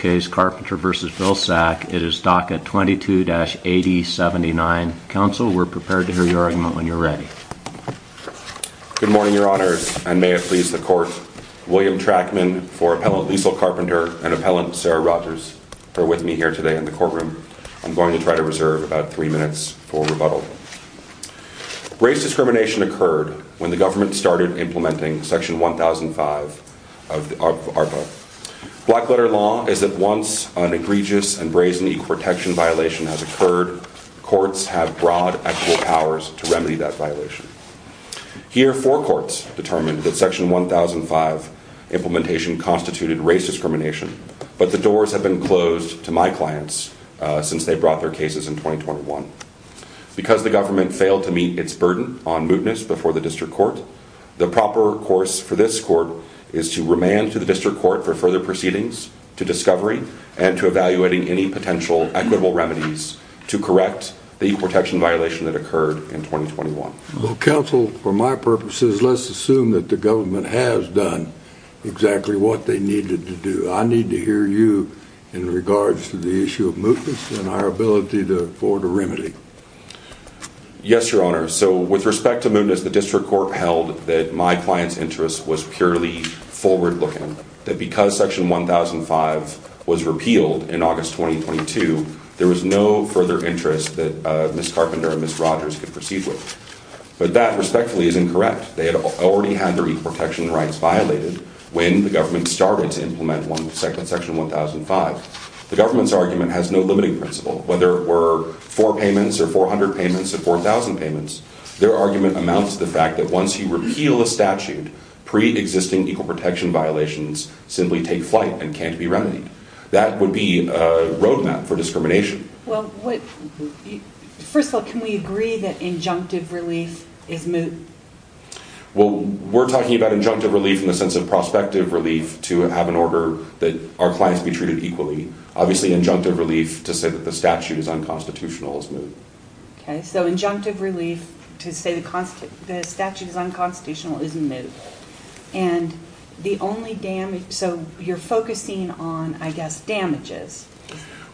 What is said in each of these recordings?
It is DACA 22-8079. Counsel, we're prepared to hear your argument when you're ready. Good morning, Your Honors, and may it please the Court, William Trackman for Appellant Liesl Carpenter and Appellant Sarah Rogers are with me here today in the courtroom. I'm going to try to reserve about three minutes for rebuttal. Race discrimination occurred when the government started implementing Section 1005 of ARPA. Black letter law is that once an egregious and brazen equal protection violation has occurred, courts have broad actual powers to remedy that violation. Here, four courts determined that Section 1005 implementation constituted race discrimination, but the doors have been closed to my clients since they brought their cases in 2021. Because the government failed to meet its burden on mootness before the district court, the proper course for this court is to remand to the district court for further proceedings, to discovery, and to evaluating any potential equitable remedies to correct the protection violation that occurred in 2021. Counsel, for my purposes, let's assume that the government has done exactly what they needed to do. I need to hear you in regards to the issue of mootness and our ability to afford a remedy. Yes, Your Honor. So with respect to mootness, the district court held that my client's interest was purely forward-looking. That because Section 1005 was repealed in August 2022, there was no further interest that Ms. Carpenter and Ms. Rogers could proceed with. But that, respectfully, is incorrect. They had already had their equal protection rights violated when the government started to implement Section 1005. The government's argument has no limiting principle. Whether it were four payments or 400 payments or 4,000 payments, their argument amounts to the fact that once you repeal a statute, pre-existing equal protection violations simply take flight and can't be remedied. That would be a roadmap for discrimination. Well, first of all, can we agree that injunctive relief is moot? Well, we're talking about injunctive relief in the sense of prospective relief to have an order that our clients be treated equally. Obviously, injunctive relief to say that the statute is unconstitutional is moot. Okay, so injunctive relief to say the statute is unconstitutional is moot. And the only damage—so you're focusing on, I guess, damages.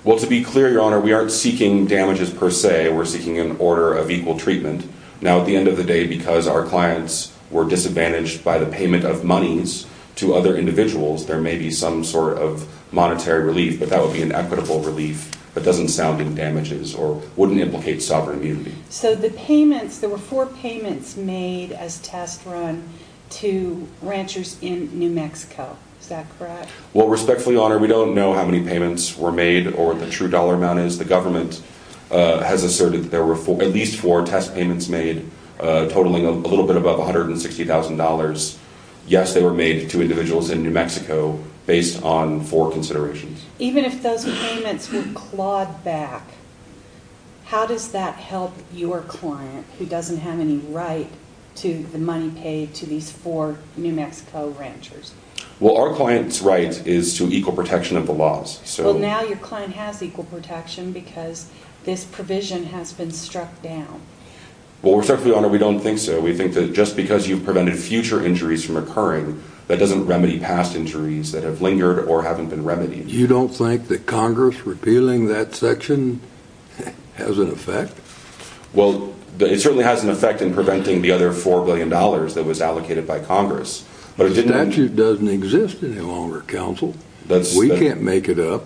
Well, to be clear, Your Honor, we aren't seeking damages per se. We're seeking an order of equal treatment. Now, at the end of the day, because our clients were disadvantaged by the payment of monies to other individuals, there may be some sort of monetary relief. But that would be an equitable relief that doesn't sound in damages or wouldn't implicate sovereign immunity. So the payments—there were four payments made as test run to ranchers in New Mexico. Is that correct? Well, respectfully, Your Honor, we don't know how many payments were made or what the true dollar amount is. The government has asserted that there were at least four test payments made totaling a little bit above $160,000. Yes, they were made to individuals in New Mexico based on four considerations. Even if those payments were clawed back, how does that help your client who doesn't have any right to the money paid to these four New Mexico ranchers? Well, our client's right is to equal protection of the laws. Well, now your client has equal protection because this provision has been struck down. Well, respectfully, Your Honor, we don't think so. We think that just because you prevented future injuries from occurring, that doesn't remedy past injuries that have lingered or haven't been remedied. You don't think that Congress repealing that section has an effect? Well, it certainly has an effect in preventing the other $4 billion that was allocated by Congress. The statute doesn't exist any longer, counsel. We can't make it up.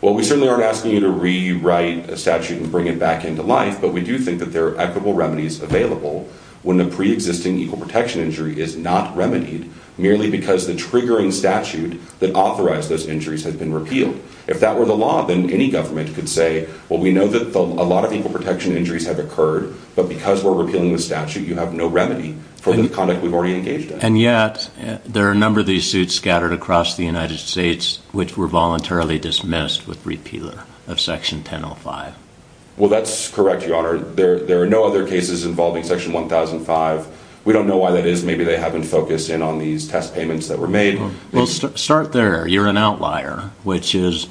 Well, we certainly aren't asking you to rewrite a statute and bring it back into life, but we do think that there are equitable remedies available when the preexisting equal protection injury is not remedied, merely because the triggering statute that authorized those injuries has been repealed. If that were the law, then any government could say, well, we know that a lot of equal protection injuries have occurred, but because we're repealing the statute, you have no remedy for the conduct we've already engaged in. And yet, there are a number of these suits scattered across the United States which were voluntarily dismissed with repeal of Section 1005. Well, that's correct, Your Honor. There are no other cases involving Section 1005. We don't know why that is. Maybe they haven't focused in on these test payments that were made. Well, start there. You're an outlier, which is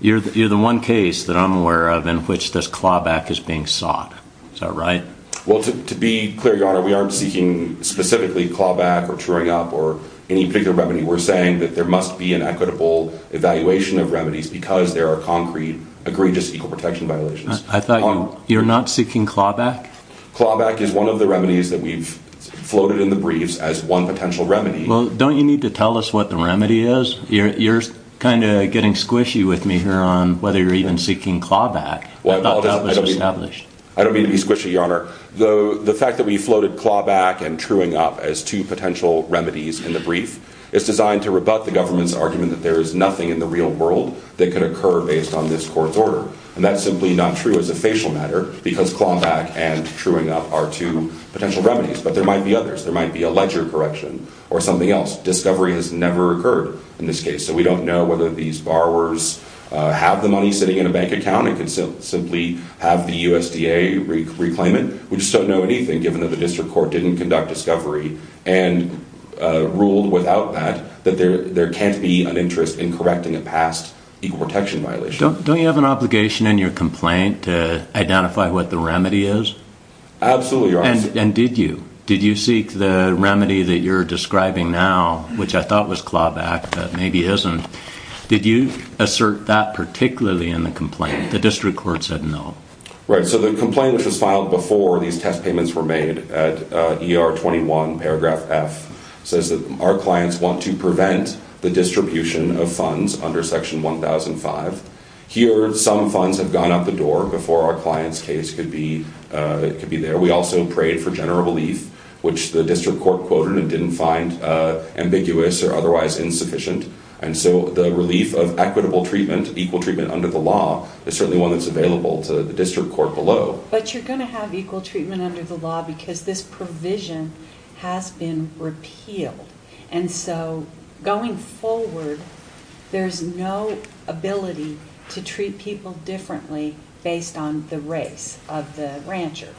you're the one case that I'm aware of in which this clawback is being sought. Is that right? Well, to be clear, Your Honor, we aren't seeking specifically clawback or truing up or any particular remedy. We're saying that there must be an equitable evaluation of remedies because there are concrete, egregious equal protection violations. I thought you're not seeking clawback? Clawback is one of the remedies that we've floated in the briefs as one potential remedy. Well, don't you need to tell us what the remedy is? You're kind of getting squishy with me here on whether you're even seeking clawback. I thought that was established. I don't mean to be squishy, Your Honor. The fact that we floated clawback and truing up as two potential remedies in the brief is designed to rebut the government's argument that there is nothing in the real world that could occur based on this court's order. And that's simply not true as a facial matter because clawback and truing up are two potential remedies. But there might be others. There might be a ledger correction or something else. Discovery has never occurred in this case. So we don't know whether these borrowers have the money sitting in a bank account and could simply have the USDA reclaim it. We just don't know anything given that the district court didn't conduct discovery and ruled without that that there can't be an interest in correcting a past equal protection violation. Don't you have an obligation in your complaint to identify what the remedy is? Absolutely, Your Honor. And did you? Did you seek the remedy that you're describing now, which I thought was clawback, but maybe isn't? Did you assert that particularly in the complaint? The district court said no. Right. So the complaint which was filed before these test payments were made at ER 21, paragraph F, says that our clients want to prevent the distribution of funds under Section 1005. Here, some funds have gone out the door before our client's case could be there. We also prayed for general relief, which the district court quoted and didn't find ambiguous or otherwise insufficient. And so the relief of equitable treatment, equal treatment under the law, is certainly one that's available to the district court below. But you're going to have equal treatment under the law because this provision has been repealed. And so going forward, there's no ability to treat people differently based on the race of the rancher.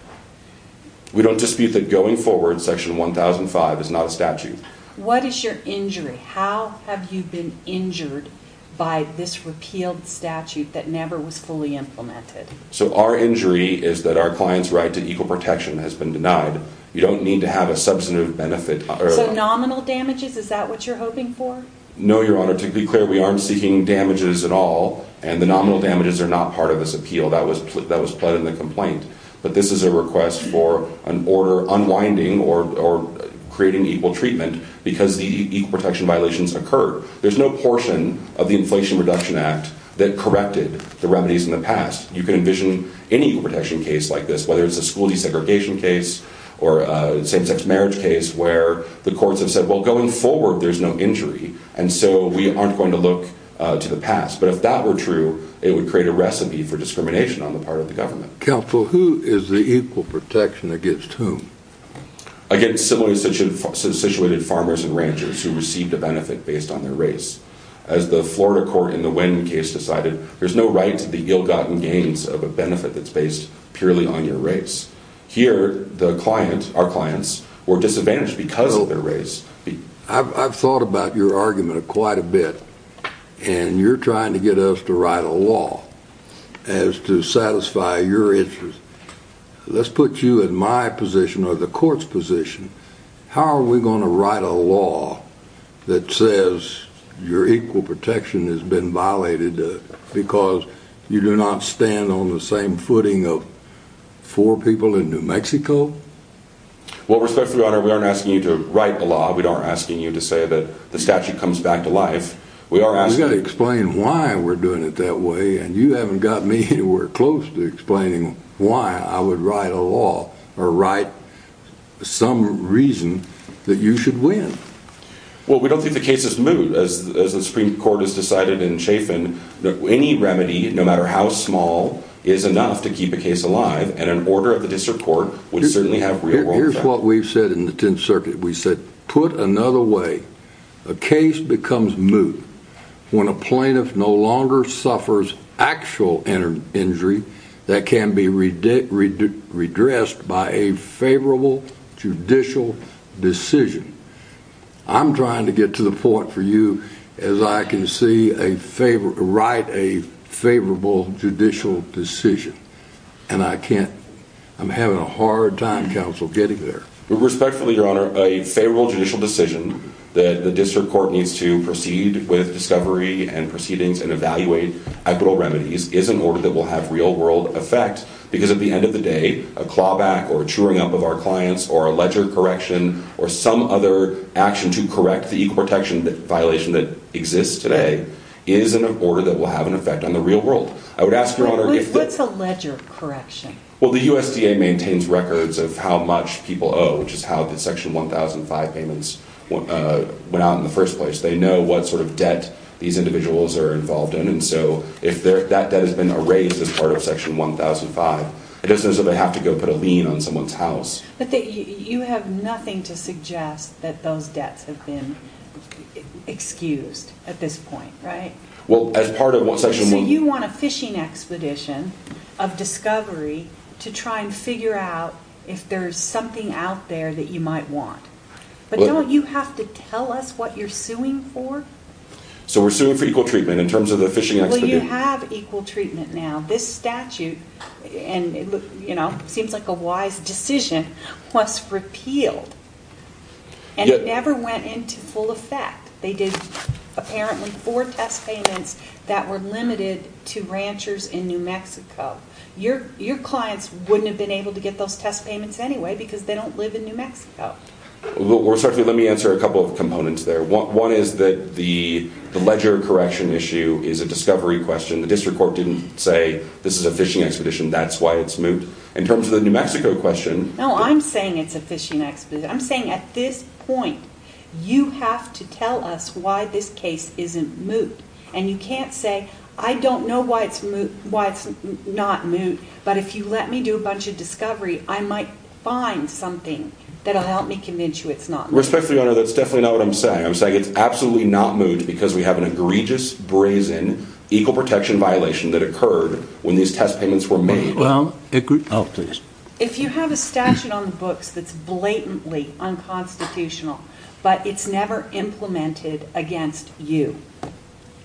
We don't dispute that going forward, Section 1005 is not a statute. What is your injury? How have you been injured by this repealed statute that never was fully implemented? So our injury is that our client's right to equal protection has been denied. You don't need to have a substantive benefit. So nominal damages, is that what you're hoping for? No, Your Honor. To be clear, we aren't seeking damages at all, and the nominal damages are not part of this appeal. That was put in the complaint. But this is a request for an order unwinding or creating equal treatment because the equal protection violations occurred. There's no portion of the Inflation Reduction Act that corrected the remedies in the past. You can envision any protection case like this, whether it's a school desegregation case or a same-sex marriage case, where the courts have said, well, going forward, there's no injury. And so we aren't going to look to the past. But if that were true, it would create a recipe for discrimination on the part of the government. Counsel, who is the equal protection against whom? Against similarly situated farmers and ranchers who received a benefit based on their race. As the Florida court in the Wyndham case decided, there's no right to the ill-gotten gains of a benefit that's based purely on your race. Here, the client, our clients, were disadvantaged because of their race. I've thought about your argument quite a bit, and you're trying to get us to write a law as to satisfy your interest. Let's put you in my position or the court's position. How are we going to write a law that says your equal protection has been violated because you do not stand on the same footing of four people in New Mexico? Well, respectfully, Your Honor, we aren't asking you to write the law. We aren't asking you to say that the statute comes back to life. You've got to explain why we're doing it that way, and you haven't got me anywhere close to explaining why I would write a law or write some reason that you should win. Well, we don't think the case is moot. As the Supreme Court has decided in Chafin, any remedy, no matter how small, is enough to keep a case alive. And an order of the district court would certainly have real world effect. Here's what we've said in the Tenth Circuit. We said, put another way, a case becomes moot when a plaintiff no longer suffers actual injury that can be redressed by a favorable judicial decision. I'm trying to get to the point for you as I can see a favor to write a favorable judicial decision, and I can't. I'm having a hard time, counsel, getting there. Respectfully, Your Honor, a favorable judicial decision that the district court needs to proceed with discovery and proceedings and evaluate equitable remedies is an order that will have real world effect. Because at the end of the day, a clawback or a chewing up of our clients or a ledger correction or some other action to correct the equal protection violation that exists today is an order that will have an effect on the real world. I would ask, Your Honor, if... What's a ledger correction? Well, the USDA maintains records of how much people owe, which is how the Section 1005 payments went out in the first place. They know what sort of debt these individuals are involved in. And so if that debt has been erased as part of Section 1005, it doesn't mean that they have to go put a lien on someone's house. But you have nothing to suggest that those debts have been excused at this point, right? Well, as part of what Section 1005... So you want a fishing expedition of discovery to try and figure out if there's something out there that you might want. But don't you have to tell us what you're suing for? So we're suing for equal treatment in terms of the fishing expedition. Well, you have equal treatment now. This statute, and it seems like a wise decision, was repealed. And it never went into full effect. They did, apparently, four test payments that were limited to ranchers in New Mexico. Your clients wouldn't have been able to get those test payments anyway because they don't live in New Mexico. Let me answer a couple of components there. One is that the ledger correction issue is a discovery question. The District Court didn't say this is a fishing expedition, that's why it's moved. In terms of the New Mexico question... No, I'm saying it's a fishing expedition. I'm saying at this point, you have to tell us why this case isn't moot. And you can't say, I don't know why it's not moot, but if you let me do a bunch of discovery, I might find something that will help me convince you it's not moot. Respectfully, Your Honor, that's definitely not what I'm saying. I'm saying it's absolutely not moot because we have an egregious, brazen, equal protection violation that occurred when these test payments were made. Well, if you... Oh, please. But it's never implemented against you.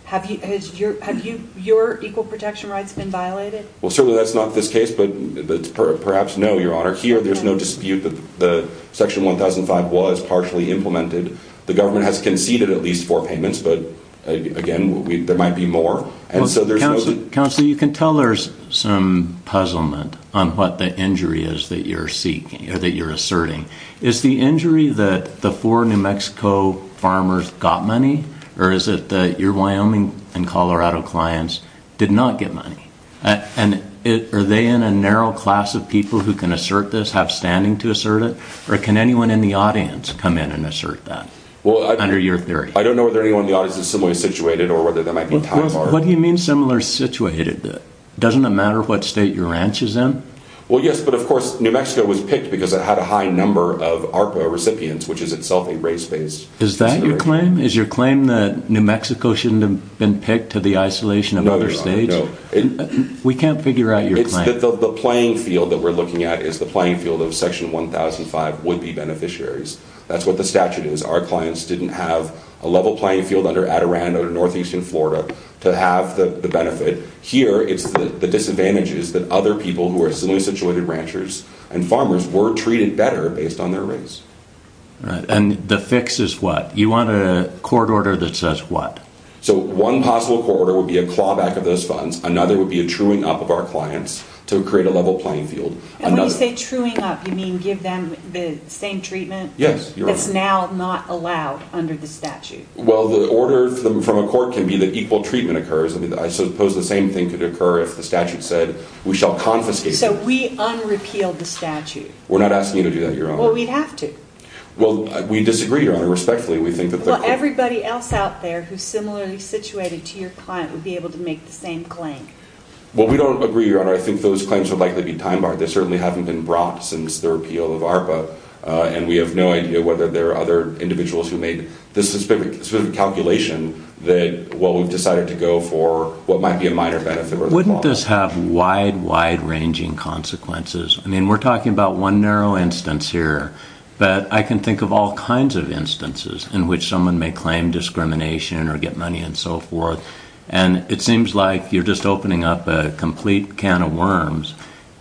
Have your equal protection rights been violated? Well, certainly that's not this case, but perhaps no, Your Honor. Here, there's no dispute that Section 1005 was partially implemented. The government has conceded at least four payments, but again, there might be more. Counselor, you can tell there's some puzzlement on what the injury is that you're seeking or that you're asserting. Is the injury that the four New Mexico farmers got money, or is it that your Wyoming and Colorado clients did not get money? And are they in a narrow class of people who can assert this, have standing to assert it? Or can anyone in the audience come in and assert that under your theory? I don't know whether anyone in the audience is similarly situated or whether there might be a tie bar. What do you mean similar situated? Doesn't it matter what state your ranch is in? Well, yes, but of course, New Mexico was picked because it had a high number of ARPA recipients, which is itself a race-based consideration. Is that your claim? Is your claim that New Mexico shouldn't have been picked to the isolation of other states? No, Your Honor, no. We can't figure out your claim. The playing field that we're looking at is the playing field of Section 1005 would-be beneficiaries. That's what the statute is. Our clients didn't have a level playing field under Adirondack or Northeastern Florida to have the benefit. Here, it's the disadvantages that other people who are similarly situated ranchers and farmers were treated better based on their race. And the fix is what? You want a court order that says what? So one possible court order would be a clawback of those funds. Another would be a truing up of our clients to create a level playing field. And when you say truing up, you mean give them the same treatment? Yes, Your Honor. That's now not allowed under the statute. Well, the order from a court can be that equal treatment occurs. I suppose the same thing could occur if the statute said we shall confiscate them. So we un-repeal the statute? We're not asking you to do that, Your Honor. Well, we'd have to. Well, we disagree, Your Honor. Respectfully, we think that the court— Well, everybody else out there who's similarly situated to your client would be able to make the same claim. Well, we don't agree, Your Honor. I think those claims would likely be time-barred. They certainly haven't been brought since the repeal of ARPA. And we have no idea whether there are other individuals who made this specific calculation that, well, we've decided to go for what might be a minor benefit or a clawback. Wouldn't this have wide, wide-ranging consequences? I mean, we're talking about one narrow instance here. But I can think of all kinds of instances in which someone may claim discrimination or get money and so forth. And it seems like you're just opening up a complete can of worms.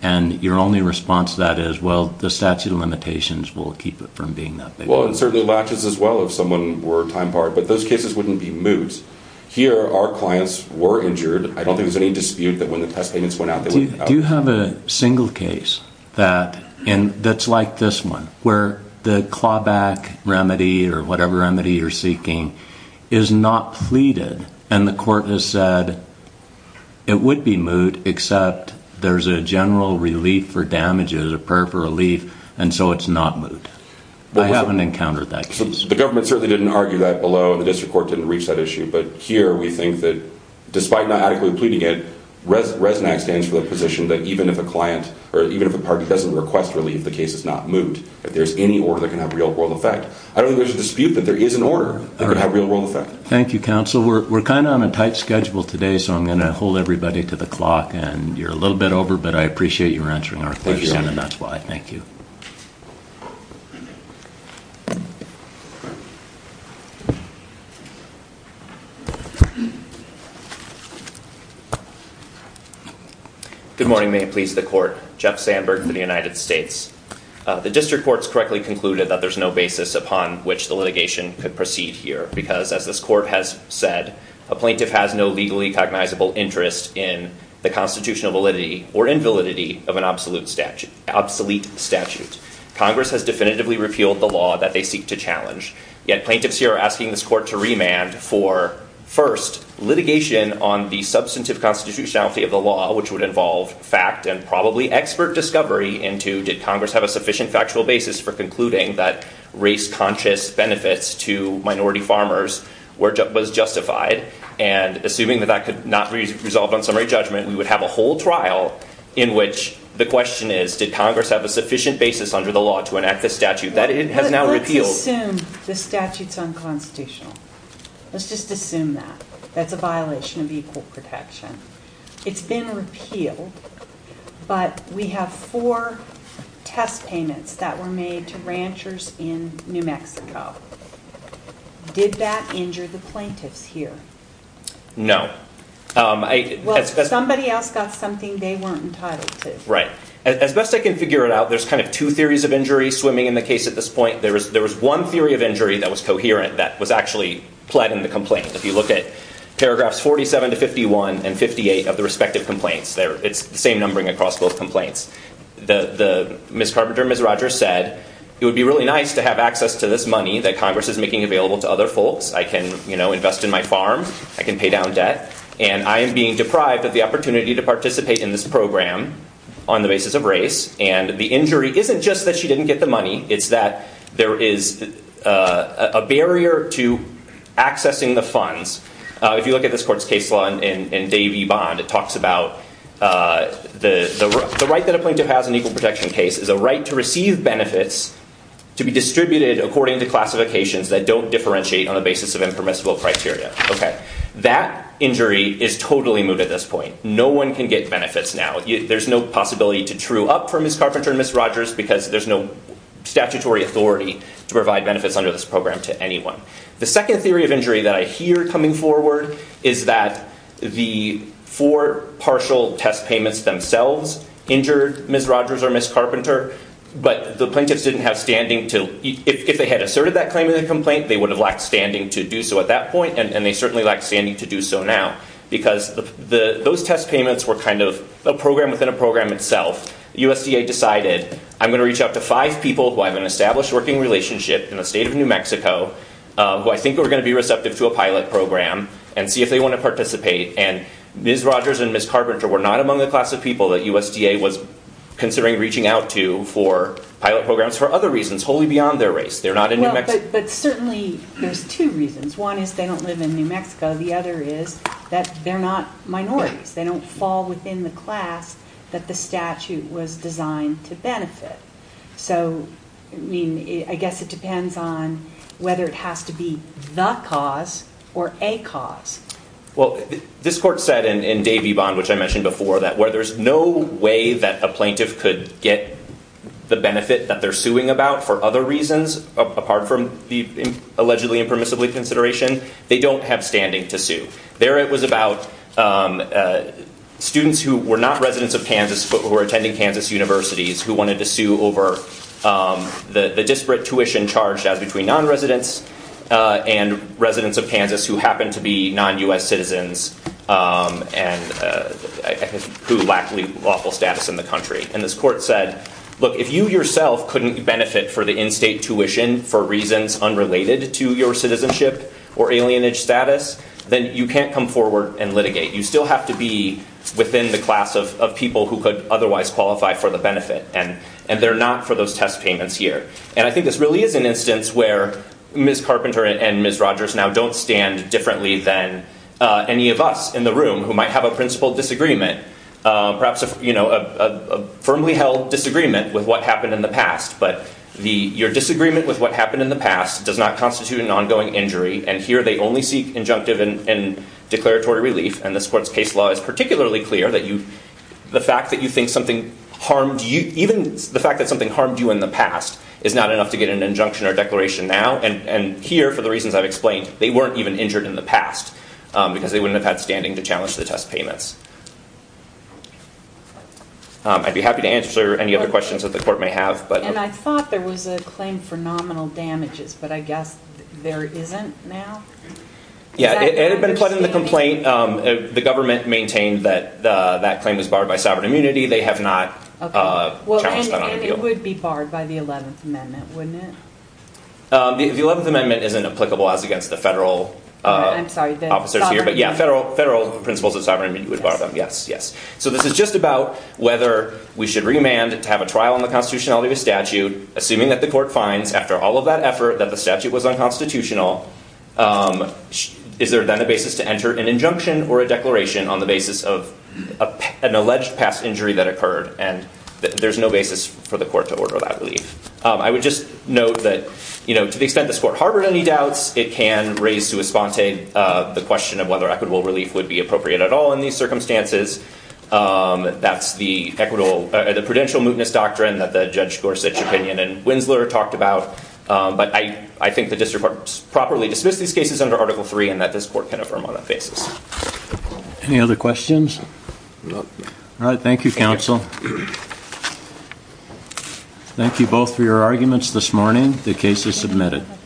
And your only response to that is, well, the statute of limitations will keep it from being that big. Well, it certainly latches as well if someone were time-barred. But those cases wouldn't be moot. Here, our clients were injured. I don't think there's any dispute that when the test payments went out, they went out. Do you have a single case that's like this one where the clawback remedy or whatever remedy you're seeking is not pleaded and the court has said it would be moot except there's a general relief for damages, a prayer for relief, and so it's not moot? I haven't encountered that case. The government certainly didn't argue that below. The district court didn't reach that issue. But here, we think that despite not adequately pleading it, RESNAC stands for the position that even if a client or even if a party doesn't request relief, the case is not moot. If there's any order that can have real-world effect. I don't think there's a dispute that there is an order that could have real-world effect. Thank you, counsel. We're kind of on a tight schedule today, so I'm going to hold everybody to the clock. And you're a little bit over, but I appreciate your answering our question, and that's why. Thank you. Good morning. May it please the court. Jeff Sandberg for the United States. The district court has correctly concluded that there's no basis upon which the litigation could proceed here because, as this court has said, a plaintiff has no legally cognizable interest in the constitutional validity or invalidity of an obsolete statute. Congress has definitively repealed the law that they seek to challenge. Yet, plaintiffs here are asking this court to remand for, first, litigation on the substantive constitutionality of the law, which would involve fact and probably expert discovery into did Congress have a sufficient factual basis for concluding that race-conscious benefits to minority farmers was justified? And assuming that that could not be resolved on summary judgment, we would have a whole trial in which the question is, did Congress have a sufficient basis under the law to enact this statute that it has now repealed? Let's assume the statute's unconstitutional. Let's just assume that. That's a violation of equal protection. It's been repealed, but we have four test payments that were made to ranchers in New Mexico. Did that injure the plaintiffs here? No. Well, somebody else got something they weren't entitled to. Right. As best I can figure it out, there's kind of two theories of injury swimming in the case at this point. There was one theory of injury that was coherent that was actually pled in the complaint. If you look at paragraphs 47 to 51 and 58 of the respective complaints, it's the same numbering across both complaints. Ms. Carpenter and Ms. Rogers said it would be really nice to have access to this money that Congress is making available to other folks. I can invest in my farm. I can pay down debt. And I am being deprived of the opportunity to participate in this program on the basis of race. And the injury isn't just that she didn't get the money. It's that there is a barrier to accessing the funds. If you look at this court's case law in Davey Bond, it talks about the right that a plaintiff has in an equal protection case is a right to receive benefits to be distributed according to classifications that don't differentiate on the basis of impermissible criteria. OK. That injury is totally moot at this point. No one can get benefits now. There's no possibility to true up for Ms. Carpenter and Ms. Rogers because there's no statutory authority to provide benefits under this program to anyone. The second theory of injury that I hear coming forward is that the four partial test payments themselves injured Ms. Rogers or Ms. Carpenter. But the plaintiffs didn't have standing. If they had asserted that claim in the complaint, they would have lacked standing to do so at that point. And they certainly lack standing to do so now. Because those test payments were kind of a program within a program itself. USDA decided, I'm going to reach out to five people who have an established working relationship in the state of New Mexico who I think are going to be receptive to a pilot program and see if they want to participate. And Ms. Rogers and Ms. Carpenter were not among the class of people that USDA was considering reaching out to for pilot programs for other reasons wholly beyond their race. They're not in New Mexico. But certainly there's two reasons. One is they don't live in New Mexico. The other is that they're not minorities. They don't fall within the class that the statute was designed to benefit. So I mean, I guess it depends on whether it has to be the cause or a cause. Well, this court said in Davy Bond, which I mentioned before, that where there's no way that a plaintiff could get the benefit that they're suing about for other reasons apart from the allegedly impermissibly consideration, they don't have standing to sue. There it was about students who were not residents of Kansas but were attending Kansas universities who wanted to sue over the disparate tuition charged as between non-residents and residents of Kansas who happen to be non-US citizens and who lack lawful status in the country. And this court said, look, if you yourself couldn't benefit for the in-state tuition for reasons unrelated to your citizenship or alienage status, then you can't come forward and litigate. You still have to be within the class of people who could otherwise qualify for the benefit. And they're not for those test payments here. And I think this really is an instance where Ms. Carpenter and Ms. Rogers now don't stand differently than any of us in the room who might have a principal disagreement, perhaps a firmly held disagreement with what happened in the past. But your disagreement with what happened in the past does not constitute an ongoing injury. And here they only seek injunctive and declaratory relief. And this court's case law is particularly clear that the fact that something harmed you in the past is not enough to get an injunction or declaration now. And here, for the reasons I've explained, they weren't even injured in the past because they wouldn't have had standing to challenge the test payments. I'd be happy to answer any other questions that the court may have. And I thought there was a claim for nominal damages. But I guess there isn't now? It had been put in the complaint. The government maintained that that claim was barred by sovereign immunity. They have not challenged that on the deal. And it would be barred by the 11th Amendment, wouldn't it? The 11th Amendment isn't applicable as against the federal officers here. But yeah, federal principles of sovereign immunity would bar them, yes. So this is just about whether we should remand to have a trial on the constitutionality of a statute, assuming that the court finds, after all of that effort, that the statute was unconstitutional. Is there, then, a basis to enter an injunction or a declaration on the basis of an alleged past injury that occurred? And there's no basis for the court to order that relief. I would just note that, to the extent this court harbored any doubts, it can raise to a sponte the question of whether equitable relief would be appropriate at all in these circumstances. That's the prudential mootness doctrine that the Judge Gorsuch opinion and Winsler talked about. But I think the district court properly dismissed these cases under Article III and that this court can affirm on that basis. Any other questions? No. All right, thank you, counsel. Thank you both for your arguments this morning. The case is submitted.